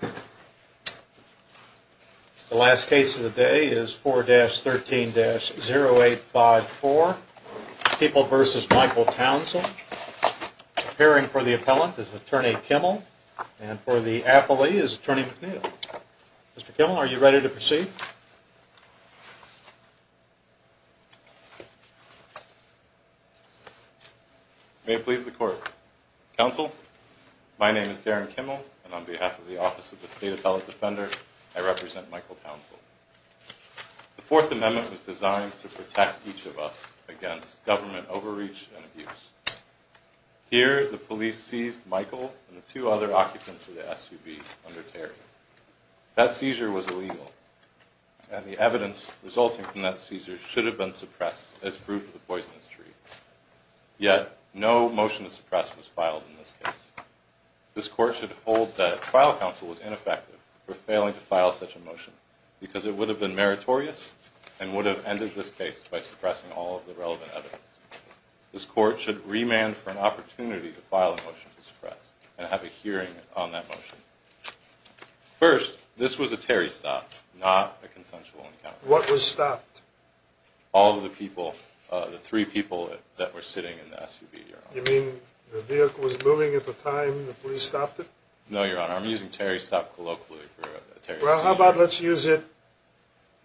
The last case of the day is 4-13-0854, People v. Michael Townsell. Appearing for the appellant is Attorney Kimmel, and for the appellee is Attorney McNeil. Mr. Kimmel, are you ready to proceed? May it please the court. Counsel, my name is Darren Kimmel, and on behalf of the Office of the State Appellate Defender, I represent Michael Townsell. The Fourth Amendment was designed to protect each of us against government overreach and abuse. Here, the police seized Michael and the two other occupants of the SUV under Terry. That seizure was illegal, and the evidence resulting from that seizure should have been suppressed as proof of the poisonous tree. Yet, no motion to suppress was filed in this case. This court should hold that trial counsel was ineffective for failing to file such a motion, because it would have been meritorious and would have ended this case by suppressing all of the relevant evidence. This court should remand for an opportunity to file a motion to suppress, and have a hearing on that motion. First, this was a Terry stop, not a consensual encounter. What was stopped? All of the people, the three people that were sitting in the SUV, Your Honor. You mean the vehicle was moving at the time the police stopped it? No, Your Honor, I'm using Terry stop colloquially for a Terry seizure. Well, how about let's use it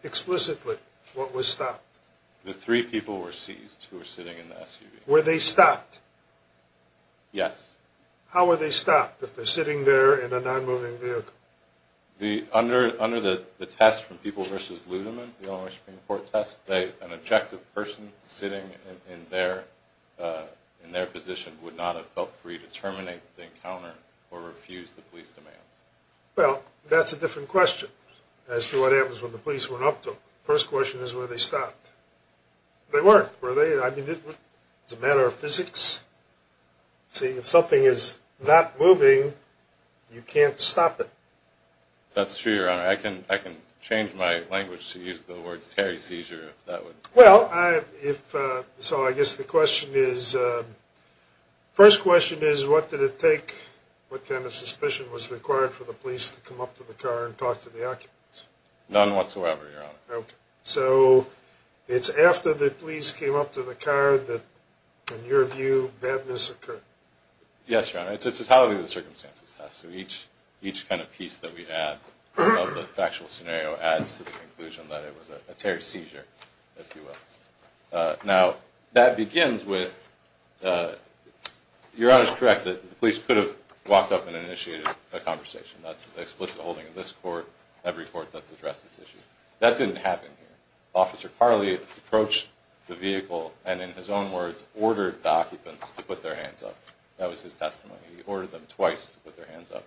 explicitly, what was stopped? The three people were seized who were sitting in the SUV. Were they stopped? Yes. How were they stopped if they're sitting there in a non-moving vehicle? Under the test from People v. Lutheran, the Illinois Supreme Court test, an objective person sitting in their position would not have felt free to terminate the encounter or refuse the police demands. Well, that's a different question as to what happens when the police went up to them. First question is, were they stopped? They weren't, were they? I mean, it's a matter of physics. See, if something is not moving, you can't stop it. That's true, Your Honor. I can change my language to use the words Terry seizure if that would... Well, so I guess the question is, first question is, what did it take, what kind of suspicion was required for the police to come up to the car and talk to the occupants? None whatsoever, Your Honor. So it's after the police came up to the car that, in your view, badness occurred? Yes, Your Honor. It's a totality of the circumstances test, so each kind of piece that we have of the factual scenario adds to the conclusion that it was a Terry seizure, if you will. Now, that begins with... Your Honor is correct that the police could have walked up and initiated a conversation. That's the explicit holding in this court, every court that's addressed this issue. That didn't happen here. Officer Carley approached the vehicle and, in his own words, ordered the occupants to put their hands up. That was his testimony. He ordered them twice to put their hands up.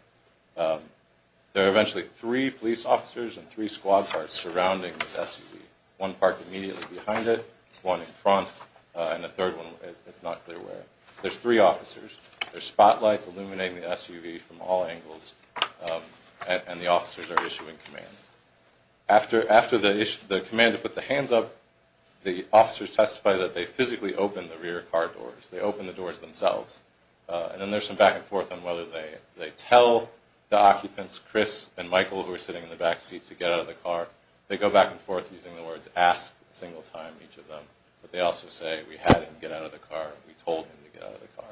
There were eventually three police officers and three squad cars surrounding this SUV, one parked immediately behind it, one in front, and a third one, it's not clear where. There's three officers. There's spotlights illuminating the SUV from all angles, and the officers are issuing commands. After the command to put the hands up, the officers testify that they physically opened the rear car doors. They opened the doors themselves. And then there's some back and forth on whether they tell the occupants, Chris and Michael, who are sitting in the back seat, to get out of the car. They go back and forth using the words, ask, a single time, each of them. But they also say, we had him get out of the car. We told him to get out of the car.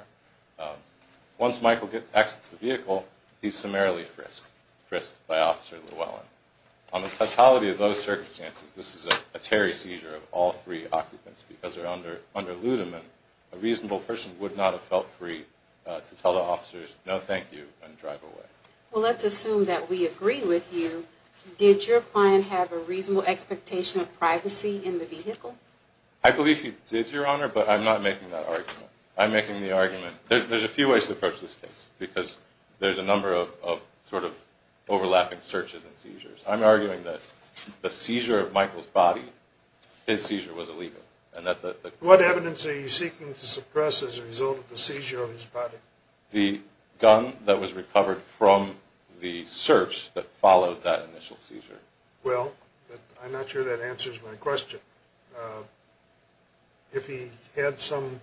Once Michael exits the vehicle, he's summarily frisked by Officer Llewellyn. On the totality of those circumstances, this is a Terry seizure of all three occupants because they're under ludiment. A reasonable person would not have felt free to tell the officers, no, thank you, and drive away. Well, let's assume that we agree with you. Did your client have a reasonable expectation of privacy in the vehicle? I believe he did, Your Honor, but I'm not making that argument. I'm making the argument, there's a few ways to approach this case because there's a number of sort of overlapping searches and seizures. I'm arguing that the seizure of Michael's body, his seizure was illegal. What evidence are you seeking to suppress as a result of the seizure of his body? The gun that was recovered from the search that followed that initial seizure. Well, I'm not sure that answers my question. If he had some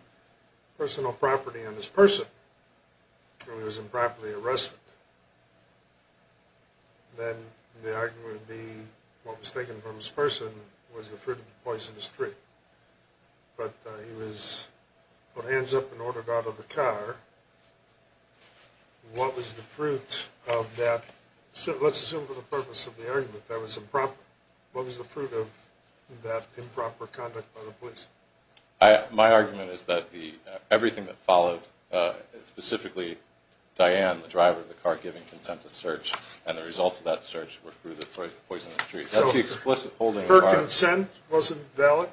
personal property on his person when he was improperly arrested, then the argument would be what was taken from his person was the fruit of the poisonous tree. But he was put hands up and ordered out of the car. What was the fruit of that? Let's assume for the purpose of the argument, what was the fruit of that improper conduct by the police? My argument is that everything that followed, specifically Diane, the driver of the car giving consent to search, and the results of that search were through the poisonous tree. So her consent wasn't valid?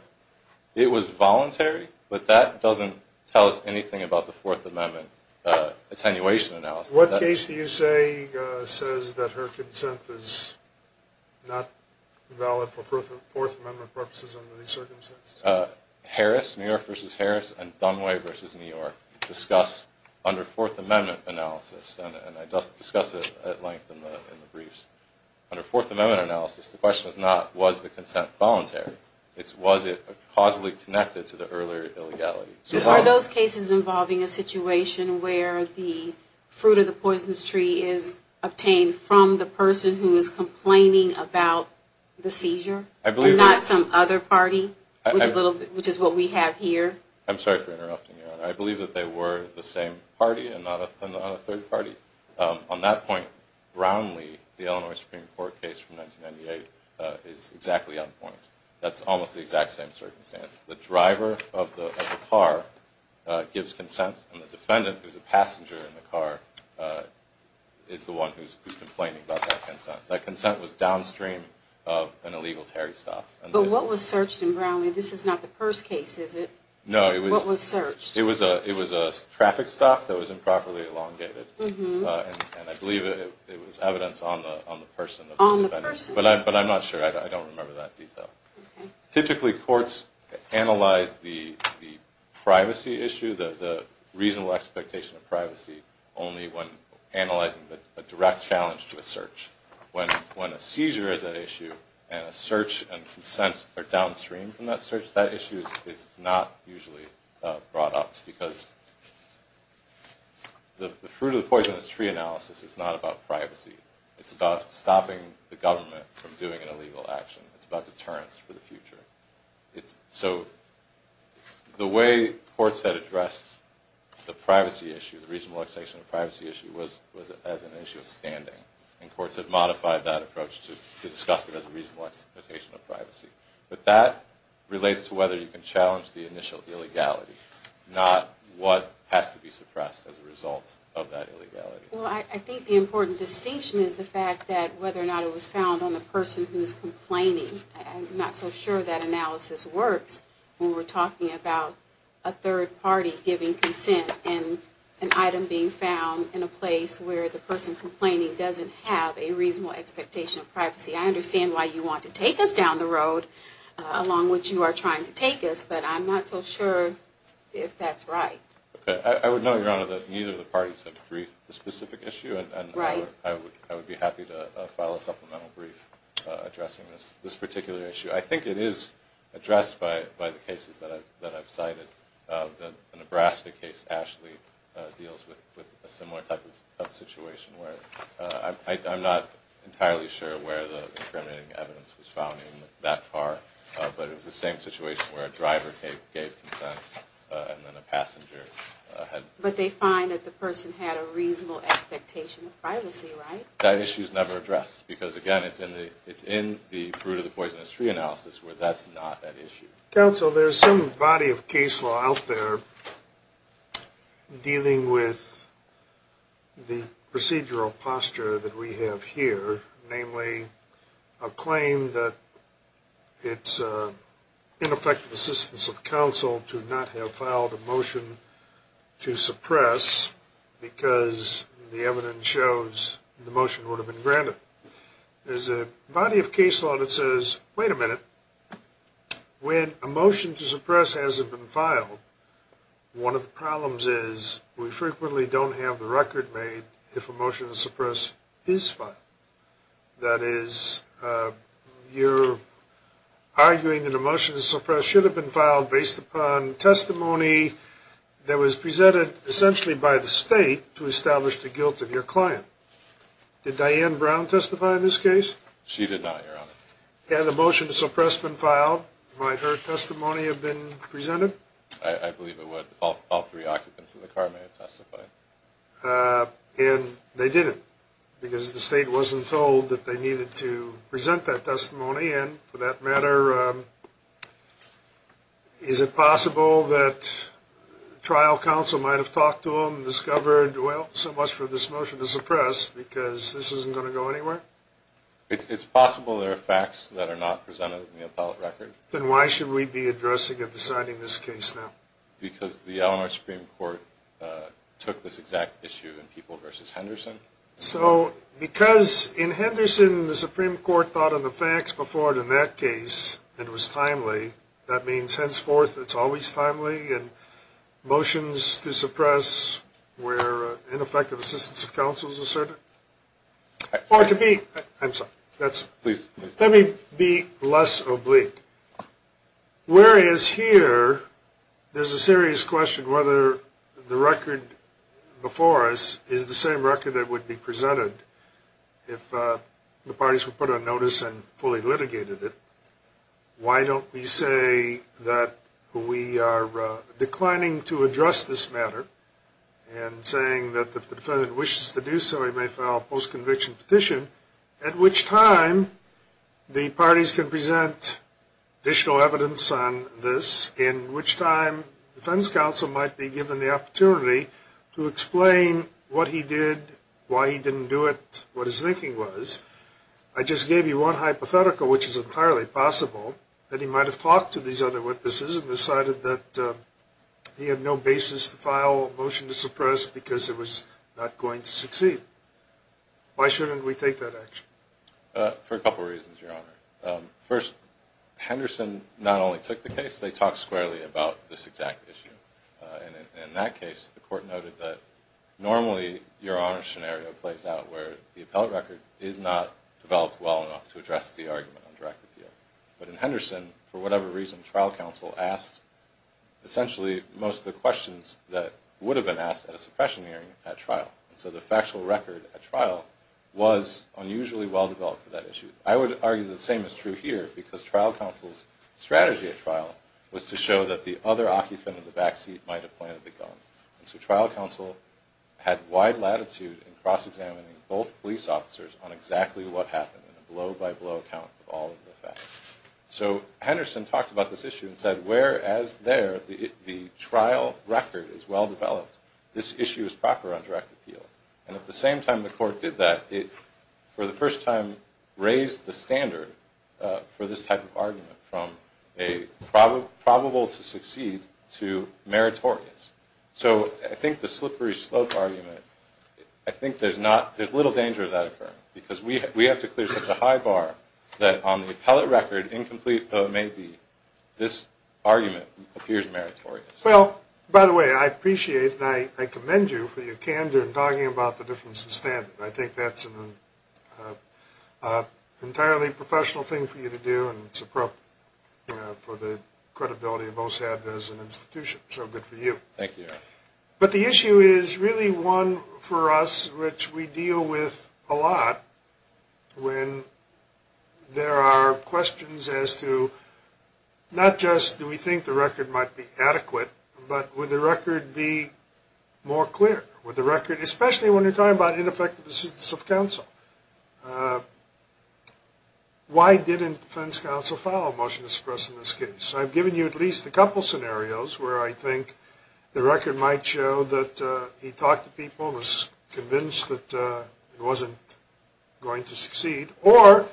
It was voluntary, but that doesn't tell us anything about the Fourth Amendment attenuation analysis. What case do you say says that her consent is not valid for Fourth Amendment purposes under these circumstances? Harris, New York v. Harris, and Dunway v. New York discuss under Fourth Amendment analysis, and I discuss it at length in the briefs. Under Fourth Amendment analysis, the question is not was the consent voluntary, it's was it causally connected to the earlier illegality. Are those cases involving a situation where the fruit of the poisonous tree is obtained from the person who is complaining about the seizure and not some other party, which is what we have here? I'm sorry for interrupting you. I believe that they were the same party and not a third party. On that point, Brownlee, the Illinois Supreme Court case from 1998, is exactly on point. That's almost the exact same circumstance. The driver of the car gives consent, and the defendant, who's a passenger in the car, is the one who's complaining about that consent. That consent was downstream of an illegal tarry stop. But what was searched in Brownlee? This is not the purse case, is it? No, it was a traffic stop that was improperly elongated. I believe it was evidence on the person, but I'm not sure. I don't remember that detail. Typically, courts analyze the privacy issue, the reasonable expectation of privacy, only when analyzing a direct challenge to a search. When a seizure is an issue and a search and consent are downstream from that search, that issue is not usually brought up because the fruit of the poison is tree analysis. It's not about privacy. It's about stopping the government from doing an illegal action. It's about deterrence for the future. So the way courts had addressed the privacy issue, the reasonable expectation of privacy issue, was as an issue of standing. And courts have modified that approach to discuss it as a reasonable expectation of privacy. But that relates to whether you can challenge the initial illegality, not what has to be suppressed as a result of that illegality. Well, I think the important distinction is the fact that whether or not it was found on the person who's complaining. I'm not so sure that analysis works when we're talking about a third party giving consent and an item being found in a place where the person complaining doesn't have a reasonable expectation of privacy. I understand why you want to take us down the road along which you are trying to take us, but I'm not so sure if that's right. I would note, Your Honor, that neither of the parties have briefed the specific issue, and I would be happy to file a supplemental brief addressing this particular issue. I think it is addressed by the cases that I've cited. The Nebraska case, Ashley, deals with a similar type of situation where I'm not entirely sure where the incriminating evidence was found in that car, but it was the same situation where a driver gave consent and then a passenger had... But they find that the person had a reasonable expectation of privacy, right? That issue is never addressed because, again, it's in the fruit-of-the-poisonous-tree analysis where that's not that issue. Counsel, there's some body of case law out there dealing with the procedural posture that we have here, namely a claim that it's ineffective assistance of counsel to not have filed a motion to suppress because the evidence shows the motion would have been granted. There's a body of case law that says, wait a minute, when a motion to suppress hasn't been filed, one of the problems is we frequently don't have the record made if a motion to suppress is filed. That is, you're arguing that a motion to suppress should have been filed based upon testimony that was presented essentially by the state to establish the guilt of your client. Did Diane Brown testify in this case? She did not, Your Honor. Had the motion to suppress been filed, might her testimony have been presented? I believe it would. All three occupants of the car may have testified. And they didn't because the state wasn't told that they needed to present that testimony, and for that matter, is it possible that trial counsel might have talked to them and discovered, well, so much for this motion to suppress because this isn't going to go anywhere? It's possible there are facts that are not presented in the appellate record. Then why should we be addressing and deciding this case now? Because the Eleanor Supreme Court took this exact issue in People v. Henderson. So because in Henderson, the Supreme Court thought on the facts before it in that case, it was timely, that means henceforth it's always timely, and motions to suppress where ineffective assistance of counsel is asserted? Or to be, I'm sorry. Please. Let me be less oblique. Whereas here, there's a serious question whether the record before us is the same record that would be presented if the parties were put on notice and fully litigated it. Why don't we say that we are declining to address this matter and saying that if the defendant wishes to do so, he may file a post-conviction petition, at which time the parties can present additional evidence on this, in which time defense counsel might be given the opportunity to explain what he did, why he didn't do it, what his thinking was. I just gave you one hypothetical, which is entirely possible, that he might have talked to these other witnesses and decided that he had no basis to file a motion to suppress because it was not going to succeed. Why shouldn't we take that action? For a couple of reasons, Your Honor. First, Henderson not only took the case, they talked squarely about this exact issue. And in that case, the court noted that normally, Your Honor's scenario plays out where the appellate record is not developed well enough to address the argument on direct appeal. But in Henderson, for whatever reason, trial counsel asked essentially most of the questions that would have been asked at a suppression hearing at trial. So the factual record at trial was unusually well-developed for that issue. I would argue the same is true here because trial counsel's strategy at trial was to show that the other occupant in the backseat might have pointed the gun. And so trial counsel had wide latitude in cross-examining both police officers on exactly what happened in a blow-by-blow account of all of the facts. So Henderson talked about this issue and said, whereas there the trial record is well-developed, this issue is proper on direct appeal. And at the same time the court did that, it for the first time raised the standard for this type of argument from a probable to succeed to meritorious. So I think the slippery slope argument, I think there's little danger of that occurring because we have to clear such a high bar that on the appellate record, incomplete though it may be, this argument appears meritorious. Well, by the way, I appreciate and I commend you for your candor in talking about the difference in standard. I think that's an entirely professional thing for you to do and it's appropriate for the credibility of OSAB as an institution. So good for you. Thank you. But the issue is really one for us which we deal with a lot when there are questions as to not just do we think the record might be adequate, but would the record be more clear? Would the record, especially when you're talking about ineffective assistance of counsel, why didn't defense counsel file a motion to suppress in this case? I've given you at least a couple scenarios where I think the record might show that he talked to people and was convinced that it wasn't going to succeed. Or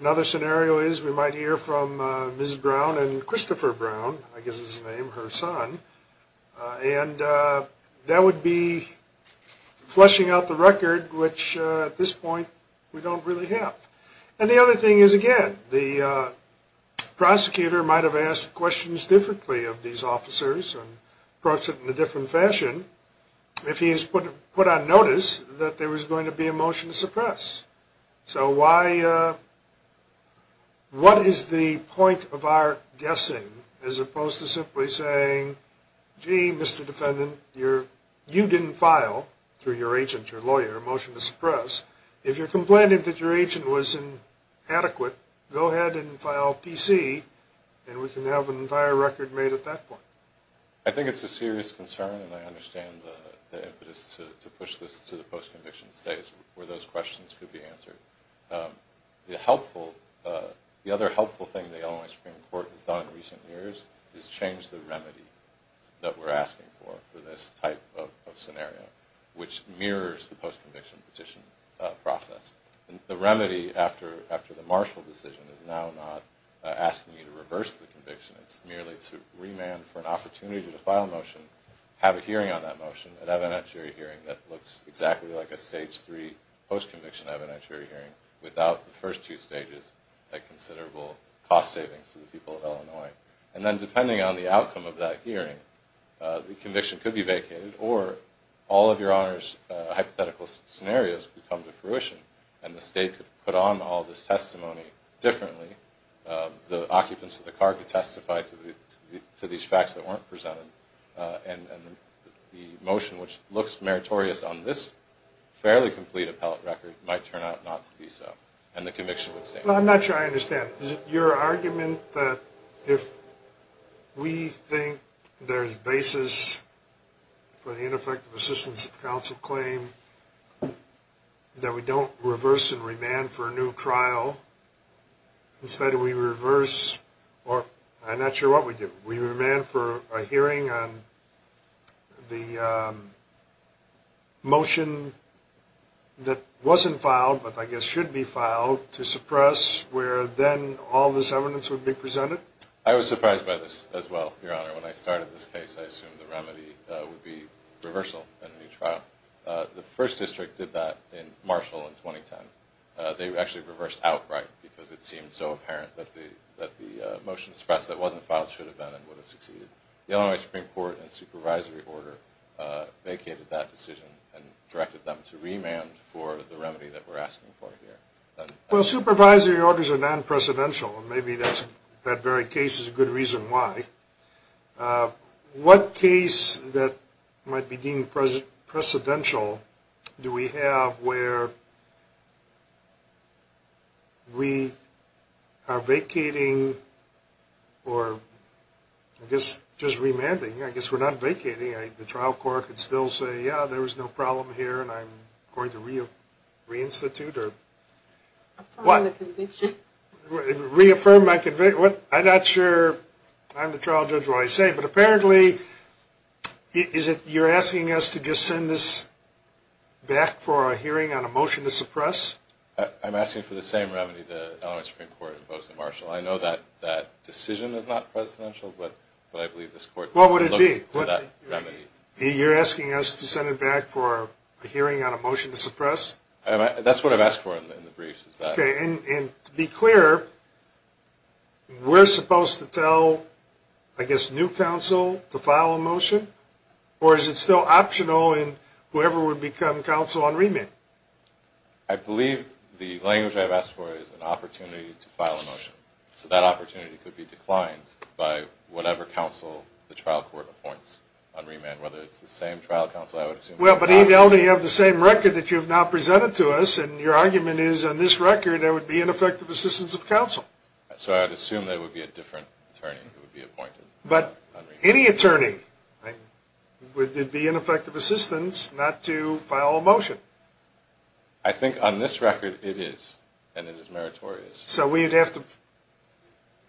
another scenario is we might hear from Ms. Brown and Christopher Brown, I guess his name, her son, and that would be fleshing out the record which at this point we don't really have. And the other thing is, again, the prosecutor might have asked questions differently of these officers and approached it in a different fashion if he has put on notice that there was going to be a motion to suppress. So what is the point of our guessing as opposed to simply saying, gee, Mr. Defendant, you didn't file through your agent, your lawyer, a motion to suppress. If you're complaining that your agent wasn't adequate, go ahead and file PC and we can have an entire record made at that point. I think it's a serious concern and I understand the impetus to push this to the post-conviction stage where those questions could be answered. The other helpful thing the Illinois Supreme Court has done in recent years is change the remedy that we're asking for for this type of scenario, which mirrors the post-conviction petition process. The remedy after the Marshall decision is now not asking you to reverse the conviction. It's merely to remand for an opportunity to file a motion, have a hearing on that motion, an evidentiary hearing that looks exactly like a stage three post-conviction evidentiary hearing without the first two stages, a considerable cost savings to the people of Illinois. And then depending on the outcome of that hearing, the conviction could be vacated or all of your honor's hypothetical scenarios could come to fruition and the state could put on all this testimony differently. The occupants of the car could testify to these facts that weren't presented and the motion, which looks meritorious on this fairly complete appellate record, might turn out not to be so and the conviction would stay. I'm not sure I understand. Is it your argument that if we think there's basis for the ineffective assistance of counsel claim that we don't reverse and remand for a new trial? Instead we reverse or I'm not sure what we do. We remand for a hearing on the motion that wasn't filed but I guess should be filed to suppress where then all this evidence would be presented? I was surprised by this as well, your honor. When I started this case I assumed the remedy would be reversal and a new trial. The first district did that in Marshall in 2010. They actually reversed outright because it seemed so apparent that the motion suppressed that wasn't filed should have been and would have succeeded. The Illinois Supreme Court and supervisory order vacated that decision and directed them to remand for the remedy that we're asking for here. Well, supervisory orders are non-precedential and maybe that very case is a good reason why. What case that might be deemed precedential do we have where we are vacating or I guess just remanding? I guess we're not vacating. The trial court could still say, yeah, there was no problem here and I'm going to reinstitute or what? Reaffirm the conviction. Reaffirm my conviction? I'm not sure I'm the trial judge when I say but apparently you're asking us to just send this back for a hearing on a motion to suppress? I'm asking for the same remedy the Illinois Supreme Court imposed in Marshall. I know that decision is not precedential but I believe this court looked to that remedy. What would it be? You're asking us to send it back for a hearing on a motion to suppress? That's what I've asked for in the briefs is that. Okay. And to be clear, we're supposed to tell, I guess, new counsel to file a motion or is it still optional in whoever would become counsel on remand? I believe the language I've asked for is an opportunity to file a motion. So that opportunity could be declined by whatever counsel the trial court appoints on remand, whether it's the same trial counsel I would assume. Well, but even though we have the same record that you've now presented to us and your argument is on this record there would be ineffective assistance of counsel. So I would assume there would be a different attorney who would be appointed. But any attorney would be ineffective assistance not to file a motion. I think on this record it is and it is meritorious. So we'd have to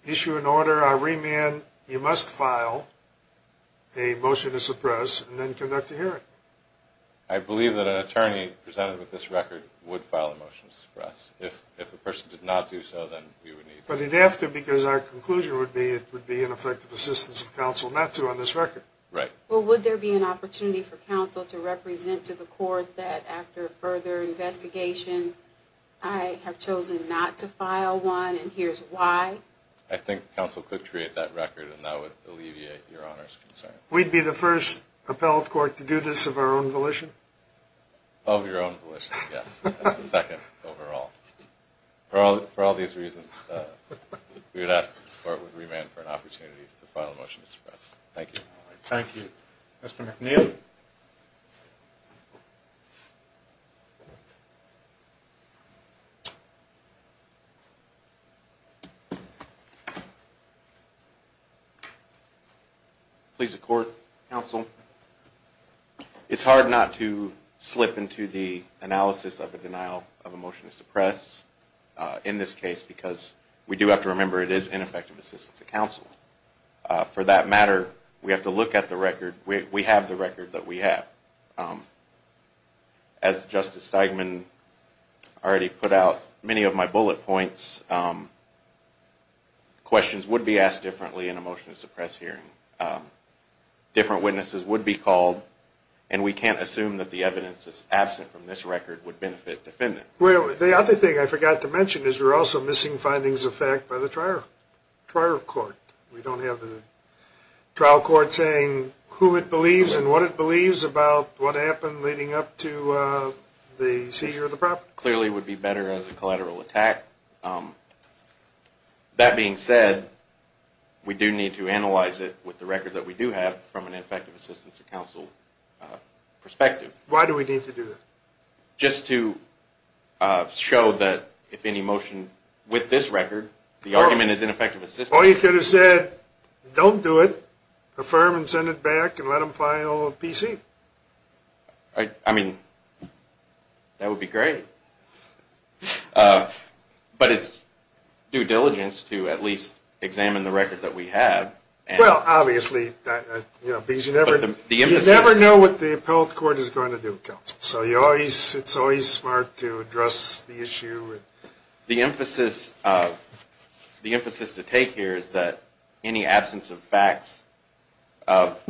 issue an order on remand, you must file a motion to suppress and then conduct a hearing. I believe that an attorney presented with this record would file a motion to suppress. If a person did not do so, then we would need to. But it would have to because our conclusion would be it would be ineffective assistance of counsel not to on this record. Right. Well, would there be an opportunity for counsel to represent to the court that after further investigation I have chosen not to file one and here's why? I think counsel could create that record and that would alleviate your Honor's concern. We'd be the first appellate court to do this of our own volition? Of your own volition, yes. That's the second overall. For all these reasons we would ask that this court would remand for an opportunity to file a motion to suppress. Thank you. Thank you. Mr. McNeil. Please support counsel. It's hard not to slip into the analysis of a denial of a motion to suppress in this case because we do have to remember it is ineffective assistance of counsel. For that matter, we have to look at the record. We have the record that we have. As Justice Steigman already put out, many of my bullet points, questions would be asked differently in a motion to suppress hearing. Different witnesses would be called, and we can't assume that the evidence that's absent from this record would benefit defendants. The other thing I forgot to mention is we're also missing findings of fact by the trial court. We don't have the trial court saying who it believes and what it believes about what happened leading up to the seizure of the property. It clearly would be better as a collateral attack. That being said, we do need to analyze it with the record that we do have from an ineffective assistance of counsel perspective. Why do we need to do that? Just to show that if any motion with this record, the argument is ineffective assistance. Or you could have said, don't do it. Affirm and send it back and let them file a PC. I mean, that would be great. But it's due diligence to at least examine the record that we have. Well, obviously, because you never know what the appellate court is going to do. So it's always smart to address the issue. The emphasis to take here is that any absence of facts of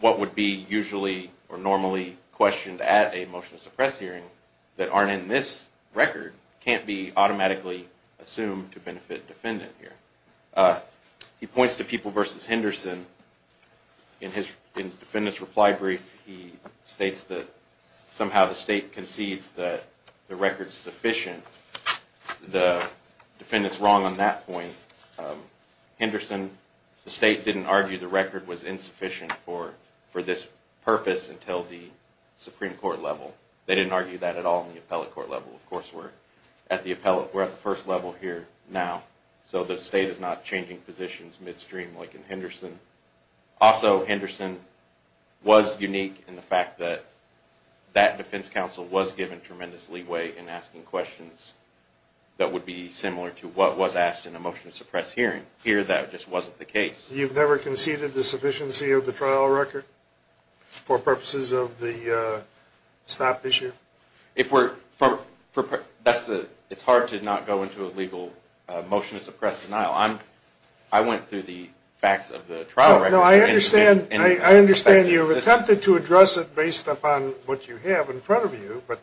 what would be usually or normally questioned at a motion to suppress hearing that aren't in this record can't be automatically assumed to benefit defendant here. He points to People v. Henderson. In his defendant's reply brief, he states that somehow the state concedes that the record's sufficient. The defendant's wrong on that point. Henderson, the state didn't argue the record was insufficient for this purpose until the Supreme Court level. They didn't argue that at all in the appellate court level. Of course, we're at the first level here now. So the state is not changing positions midstream like in Henderson. Also, Henderson was unique in the fact that that defense counsel was given tremendous leeway in asking questions that would be similar to what was asked in a motion to suppress hearing. Here, that just wasn't the case. You've never conceded the sufficiency of the trial record for purposes of the stop issue? It's hard to not go into a legal motion to suppress denial. I went through the facts of the trial record. I understand you've attempted to address it based upon what you have in front of you, but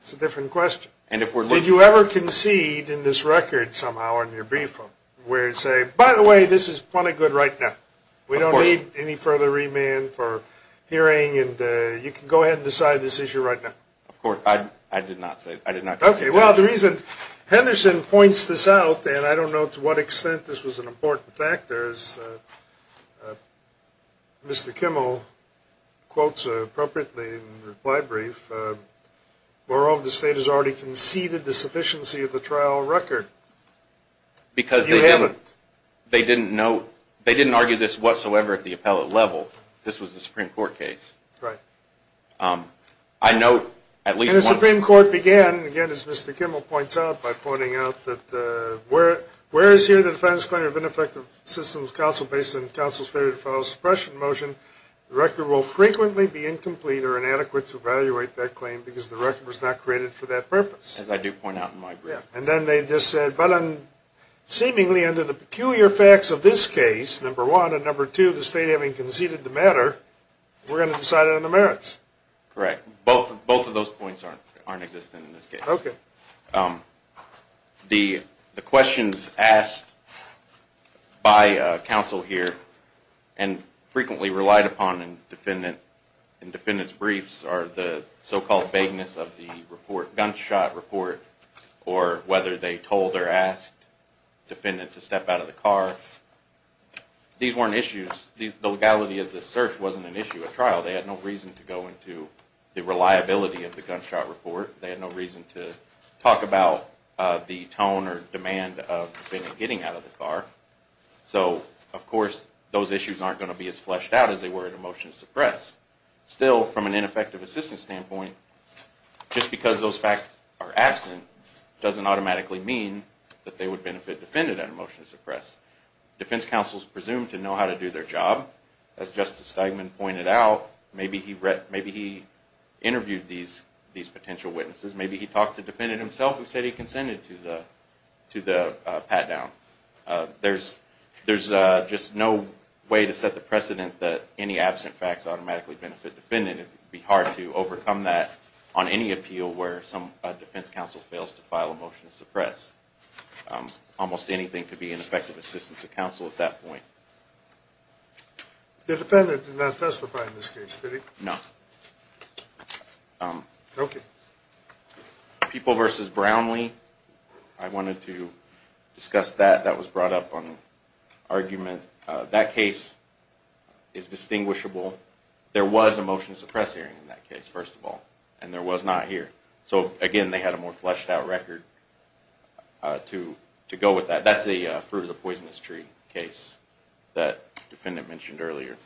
it's a different question. Did you ever concede in this record somehow in your brief where you say, by the way, this is plenty good right now. We don't need any further remand for hearing. You can go ahead and decide this issue right now. Of course. I did not say that. Okay. Well, the reason Henderson points this out, and I don't know to what extent this was an important factor, as Mr. Kimmel quotes appropriately in the reply brief, moreover, the state has already conceded the sufficiency of the trial record. You haven't. Because they didn't argue this whatsoever at the appellate level. This was a Supreme Court case. Right. I note at least once. And the Supreme Court began, again, as Mr. Kimmel points out, by pointing out that whereas here the defense claim of ineffective systems counsel based on counsel's failure to follow suppression motion, the record will frequently be incomplete or inadequate to evaluate that claim because the record was not created for that purpose. As I do point out in my brief. And then they just said, but seemingly under the peculiar facts of this case, number one, and number two, the state having conceded the matter, we're going to decide on the merits. Correct. Both of those points aren't existing in this case. Okay. The questions asked by counsel here and frequently relied upon in defendants' briefs are the so-called vagueness of the report, gunshot report, or whether they told or asked defendants to step out of the car. These weren't issues. The legality of the search wasn't an issue. At trial they had no reason to go into the reliability of the gunshot report. They had no reason to talk about the tone or demand of defendants getting out of the car. So, of course, those issues aren't going to be as fleshed out as they were in a motion to suppress. Still, from an ineffective assistance standpoint, just because those facts are absent doesn't automatically mean that they would benefit defendant in a motion to suppress. Defense counsels presumed to know how to do their job. As Justice Steigman pointed out, maybe he interviewed these potential witnesses. Maybe he talked to the defendant himself and said he consented to the pat-down. There's just no way to set the precedent that any absent facts automatically benefit defendant. It would be hard to overcome that on any appeal where some defense counsel fails to file a motion to suppress. Almost anything could be an effective assistance to counsel at that point. The defendant did not testify in this case, did he? No. Okay. People v. Brownlee, I wanted to discuss that. That was brought up on argument. That case is distinguishable. There was a motion to suppress hearing in that case, first of all, and there was not here. So, again, they had a more fleshed-out record to go with that. That's the fruit-of-the-poisonous-tree case that the defendant mentioned earlier.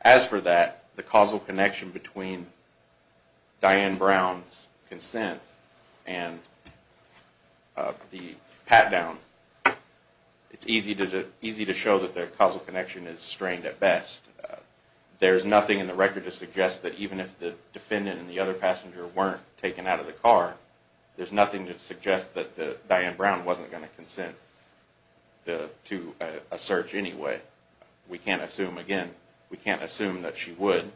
As for that, the causal connection between Diane Brown's consent and the pat-down, it's easy to show that the causal connection is strained at best. There's nothing in the record to suggest that even if the defendant and the other passenger weren't taken out of the car, there's nothing to suggest that Diane Brown wasn't going to consent to a search anyway. We can't assume, again, we can't assume that she would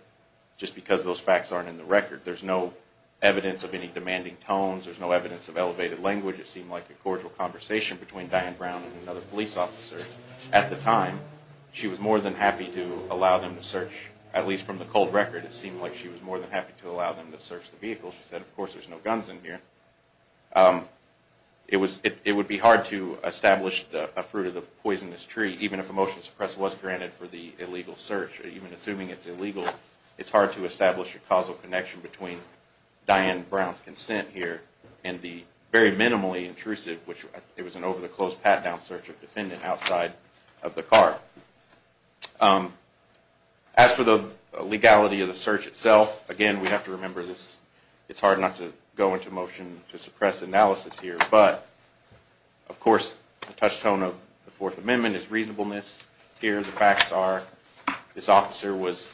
just because those facts aren't in the record. There's no evidence of any demanding tones. There's no evidence of elevated language. It seemed like a cordial conversation between Diane Brown and another police officer. At the time, she was more than happy to allow them to search, at least from the cold record, it seemed like she was more than happy to allow them to search the vehicle. She said, of course, there's no guns in here. It would be hard to establish a fruit-of-the-poisonous-tree, even if a motion to suppress was granted for the illegal search. Even assuming it's illegal, it's hard to establish a causal connection between Diane Brown's consent here and the very minimally intrusive, which it was an over-the-close, pat-down search of defendant outside of the car. As for the legality of the search itself, again, we have to remember this. It's hard not to go into motion to suppress analysis here. But, of course, the touchstone of the Fourth Amendment is reasonableness. Here, the facts are this officer was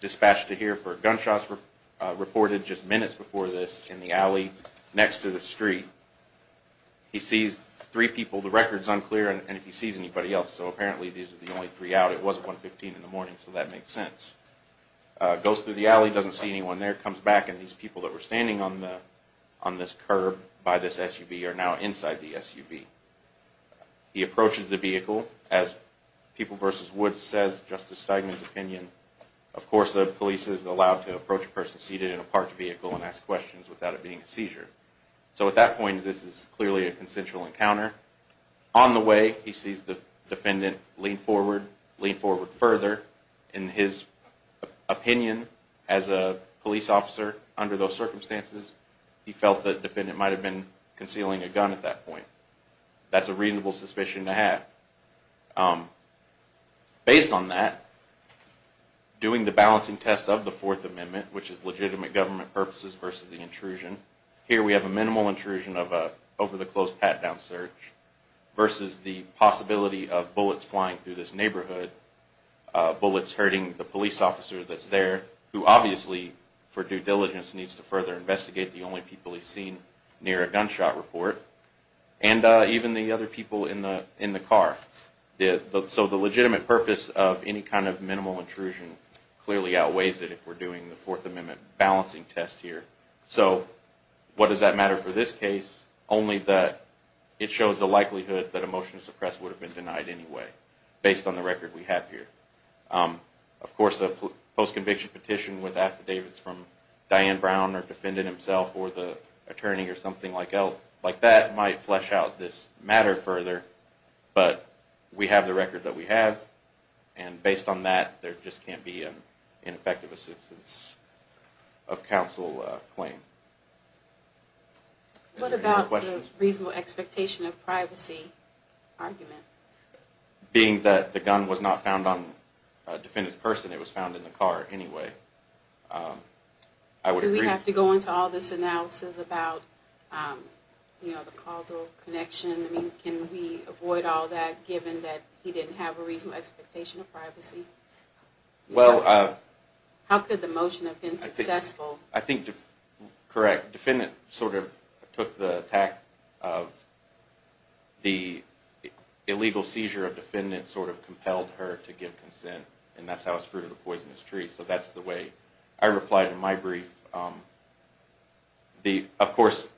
dispatched to here for gunshots reported just minutes before this in the alley next to the street. He sees three people. The record's unclear on if he sees anybody else. So, apparently, these are the only three out. It was 115 in the morning, so that makes sense. Goes through the alley, doesn't see anyone there, comes back, and these people that were standing on this curb by this SUV are now inside the SUV. He approaches the vehicle. As People vs. Woods says, Justice Steigman's opinion, of course the police is allowed to approach a person seated in a parked vehicle and ask questions without it being a seizure. So, at that point, this is clearly a consensual encounter. On the way, he sees the defendant lean forward, lean forward further. In his opinion, as a police officer under those circumstances, he felt the defendant might have been concealing a gun at that point. That's a reasonable suspicion to have. Based on that, doing the balancing test of the Fourth Amendment, which is legitimate government purposes versus the intrusion, here we have a minimal intrusion of an over-the-close pat-down search versus the possibility of bullets flying through this neighborhood, bullets hurting the police officer that's there, who obviously, for due diligence, needs to further investigate the only people he's seen near a gunshot report, and even the other people in the car. So the legitimate purpose of any kind of minimal intrusion clearly outweighs it if we're doing the Fourth Amendment balancing test here. So, what does that matter for this case? Only that it shows the likelihood that a motion to suppress would have been denied anyway, based on the record we have here. Of course, a post-conviction petition with affidavits from Diane Brown or the defendant himself or the attorney or something like that might flesh out this matter further, but we have the record that we have, and based on that, there just can't be an ineffective assistance of counsel claim. What about the reasonable expectation of privacy argument? Being that the gun was not found on the defendant's person, it was found in the car anyway. Do we have to go into all this analysis about the causal connection? Can we avoid all that, given that he didn't have a reasonable expectation of privacy? How could the motion have been successful? I think, correct, the defendant sort of took the attack of the illegal seizure of the defendant sort of compelled her to give consent, and that's how it's fruited a poisonous tree. So that's the way I replied in my brief. Of course,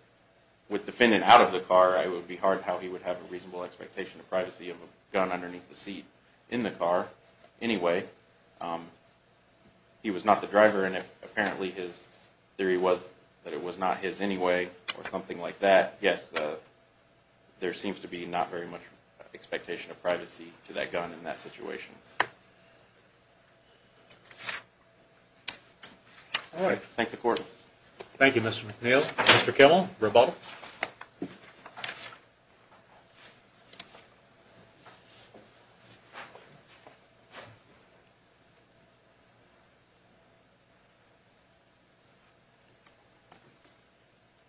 with the defendant out of the car, it would be hard how he would have a reasonable expectation of privacy of a gun underneath the seat in the car anyway. He was not the driver, and apparently his theory was that it was not his anyway, or something like that. Yes, there seems to be not very much expectation of privacy to that gun in that situation. All right, thank the court. Thank you, Mr. McNeil. Mr. Kemmel, rebuttal.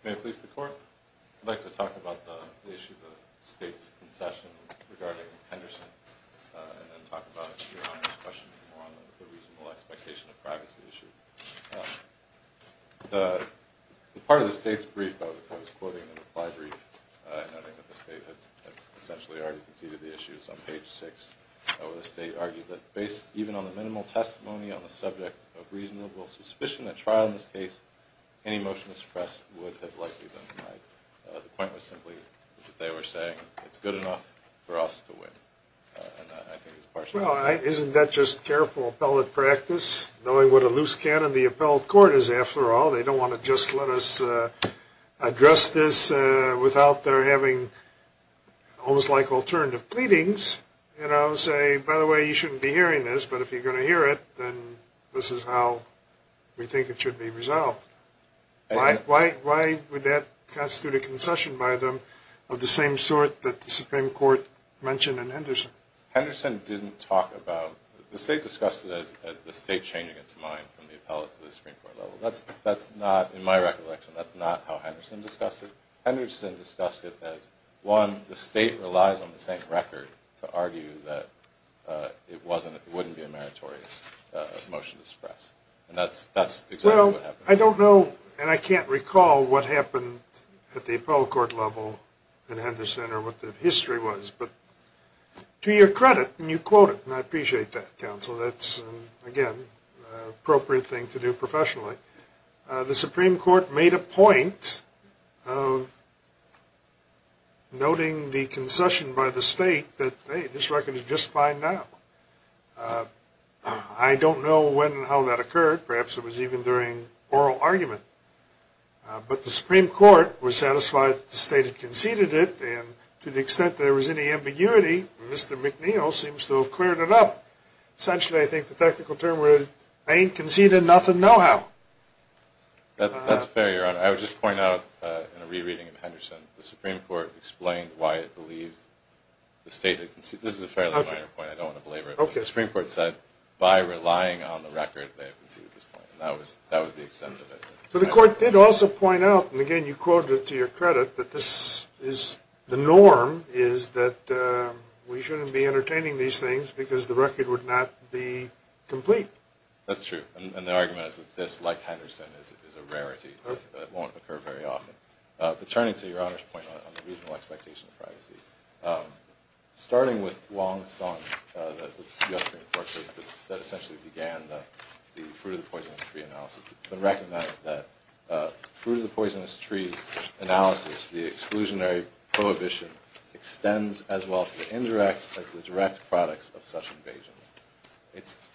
May it please the court? I'd like to talk about the issue of the state's concession regarding Henderson and talk about your honor's question on the reasonable expectation of privacy issue. The part of the state's brief that I was quoting in the reply brief, noting that the state had essentially already conceded the issue, which is on page 6, where the state argued that based even on the minimal testimony on the subject of reasonable suspicion at trial in this case, any motion to suppress would have likely been denied. The point was simply that they were saying it's good enough for us to win. Isn't that just careful appellate practice, knowing what a loose cannon the appellate court is after all? They don't want to just let us address this without their having, almost like alternative pleadings, you know, say, by the way, you shouldn't be hearing this, but if you're going to hear it, then this is how we think it should be resolved. Why would that constitute a concession by them of the same sort that the Supreme Court mentioned in Henderson? Henderson didn't talk about, the state discussed it as the state changing its mind from the appellate to the Supreme Court level. That's not, in my recollection, that's not how Henderson discussed it. Henderson discussed it as, one, the state relies on the same record to argue that it wouldn't be a meritorious motion to suppress. And that's exactly what happened. Well, I don't know, and I can't recall what happened at the appellate court level in Henderson or what the history was, but to your credit, and you quote it, and I appreciate that, counsel. That's, again, an appropriate thing to do professionally. The Supreme Court made a point of noting the concession by the state that, hey, this record is just fine now. I don't know when and how that occurred. Perhaps it was even during oral argument. But the Supreme Court was satisfied that the state had conceded it, and to the extent there was any ambiguity, Mr. McNeil seems to have cleared it up. Essentially, I think the technical term was, I ain't conceding nothing no how. That's fair, Your Honor. I would just point out, in a re-reading of Henderson, the Supreme Court explained why it believed the state had conceded. This is a fairly minor point. I don't want to belabor it. But the Supreme Court said, by relying on the record, they had conceded this point. That was the extent of it. So the court did also point out, and, again, you quoted it to your credit, that the norm is that we shouldn't be entertaining these things because the record would not be complete. That's true. And the argument is that this, like Henderson, is a rarity. It won't occur very often. But turning to Your Honor's point on the reasonable expectation of privacy, starting with Wong's song that the Supreme Court says that essentially began the Fruit of the Poisonous Tree analysis, it's been recognized that, through the Poisonous Tree analysis, the exclusionary prohibition extends as well to the indirect as the direct products of such invasions.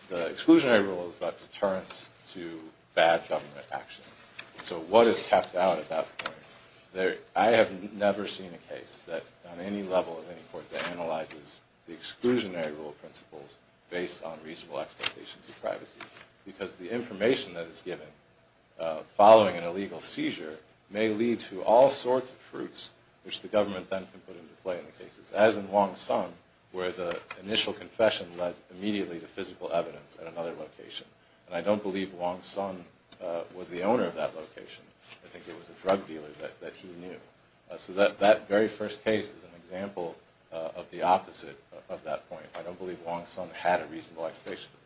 The exclusionary rule is about deterrence to bad government actions. So what is capped out at that point? I have never seen a case that, on any level of any court, that analyzes the exclusionary rule principles based on reasonable expectations of privacy because the information that is given following an illegal seizure may lead to all sorts of fruits, which the government then can put into play in the cases, as in Wong's son, where the initial confession led immediately to physical evidence at another location. And I don't believe Wong's son was the owner of that location. I think it was a drug dealer that he knew. So that very first case is an example of the opposite of that point. I don't believe Wong's son had a reasonable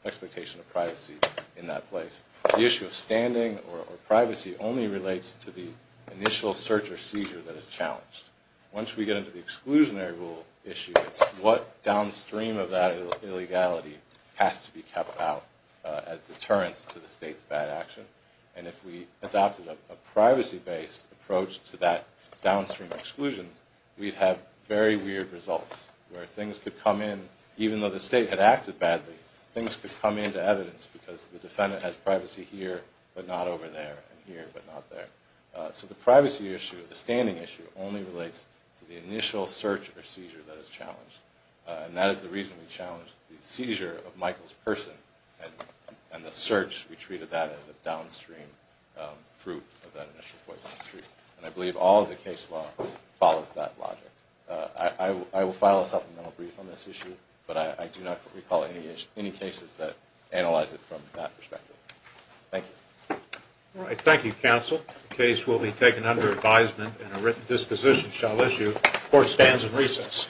expectation of privacy in that place. The issue of standing or privacy only relates to the initial search or seizure that is challenged. Once we get into the exclusionary rule issue, it's what downstream of that illegality has to be kept out as deterrence to the state's bad action. And if we adopted a privacy-based approach to that downstream exclusion, we'd have very weird results where things could come in. Even though the state had acted badly, things could come into evidence because the defendant has privacy here but not over there and here but not there. So the privacy issue, the standing issue, only relates to the initial search or seizure that is challenged. And that is the reason we challenged the seizure of Michael's person and the search we treated that as a downstream fruit of that initial poisoning. And I believe all of the case law follows that logic. I will file a supplemental brief on this issue, but I do not recall any cases that analyze it from that perspective. Thank you. All right. Thank you, counsel. The case will be taken under advisement and a written disposition shall issue. Court stands in recess.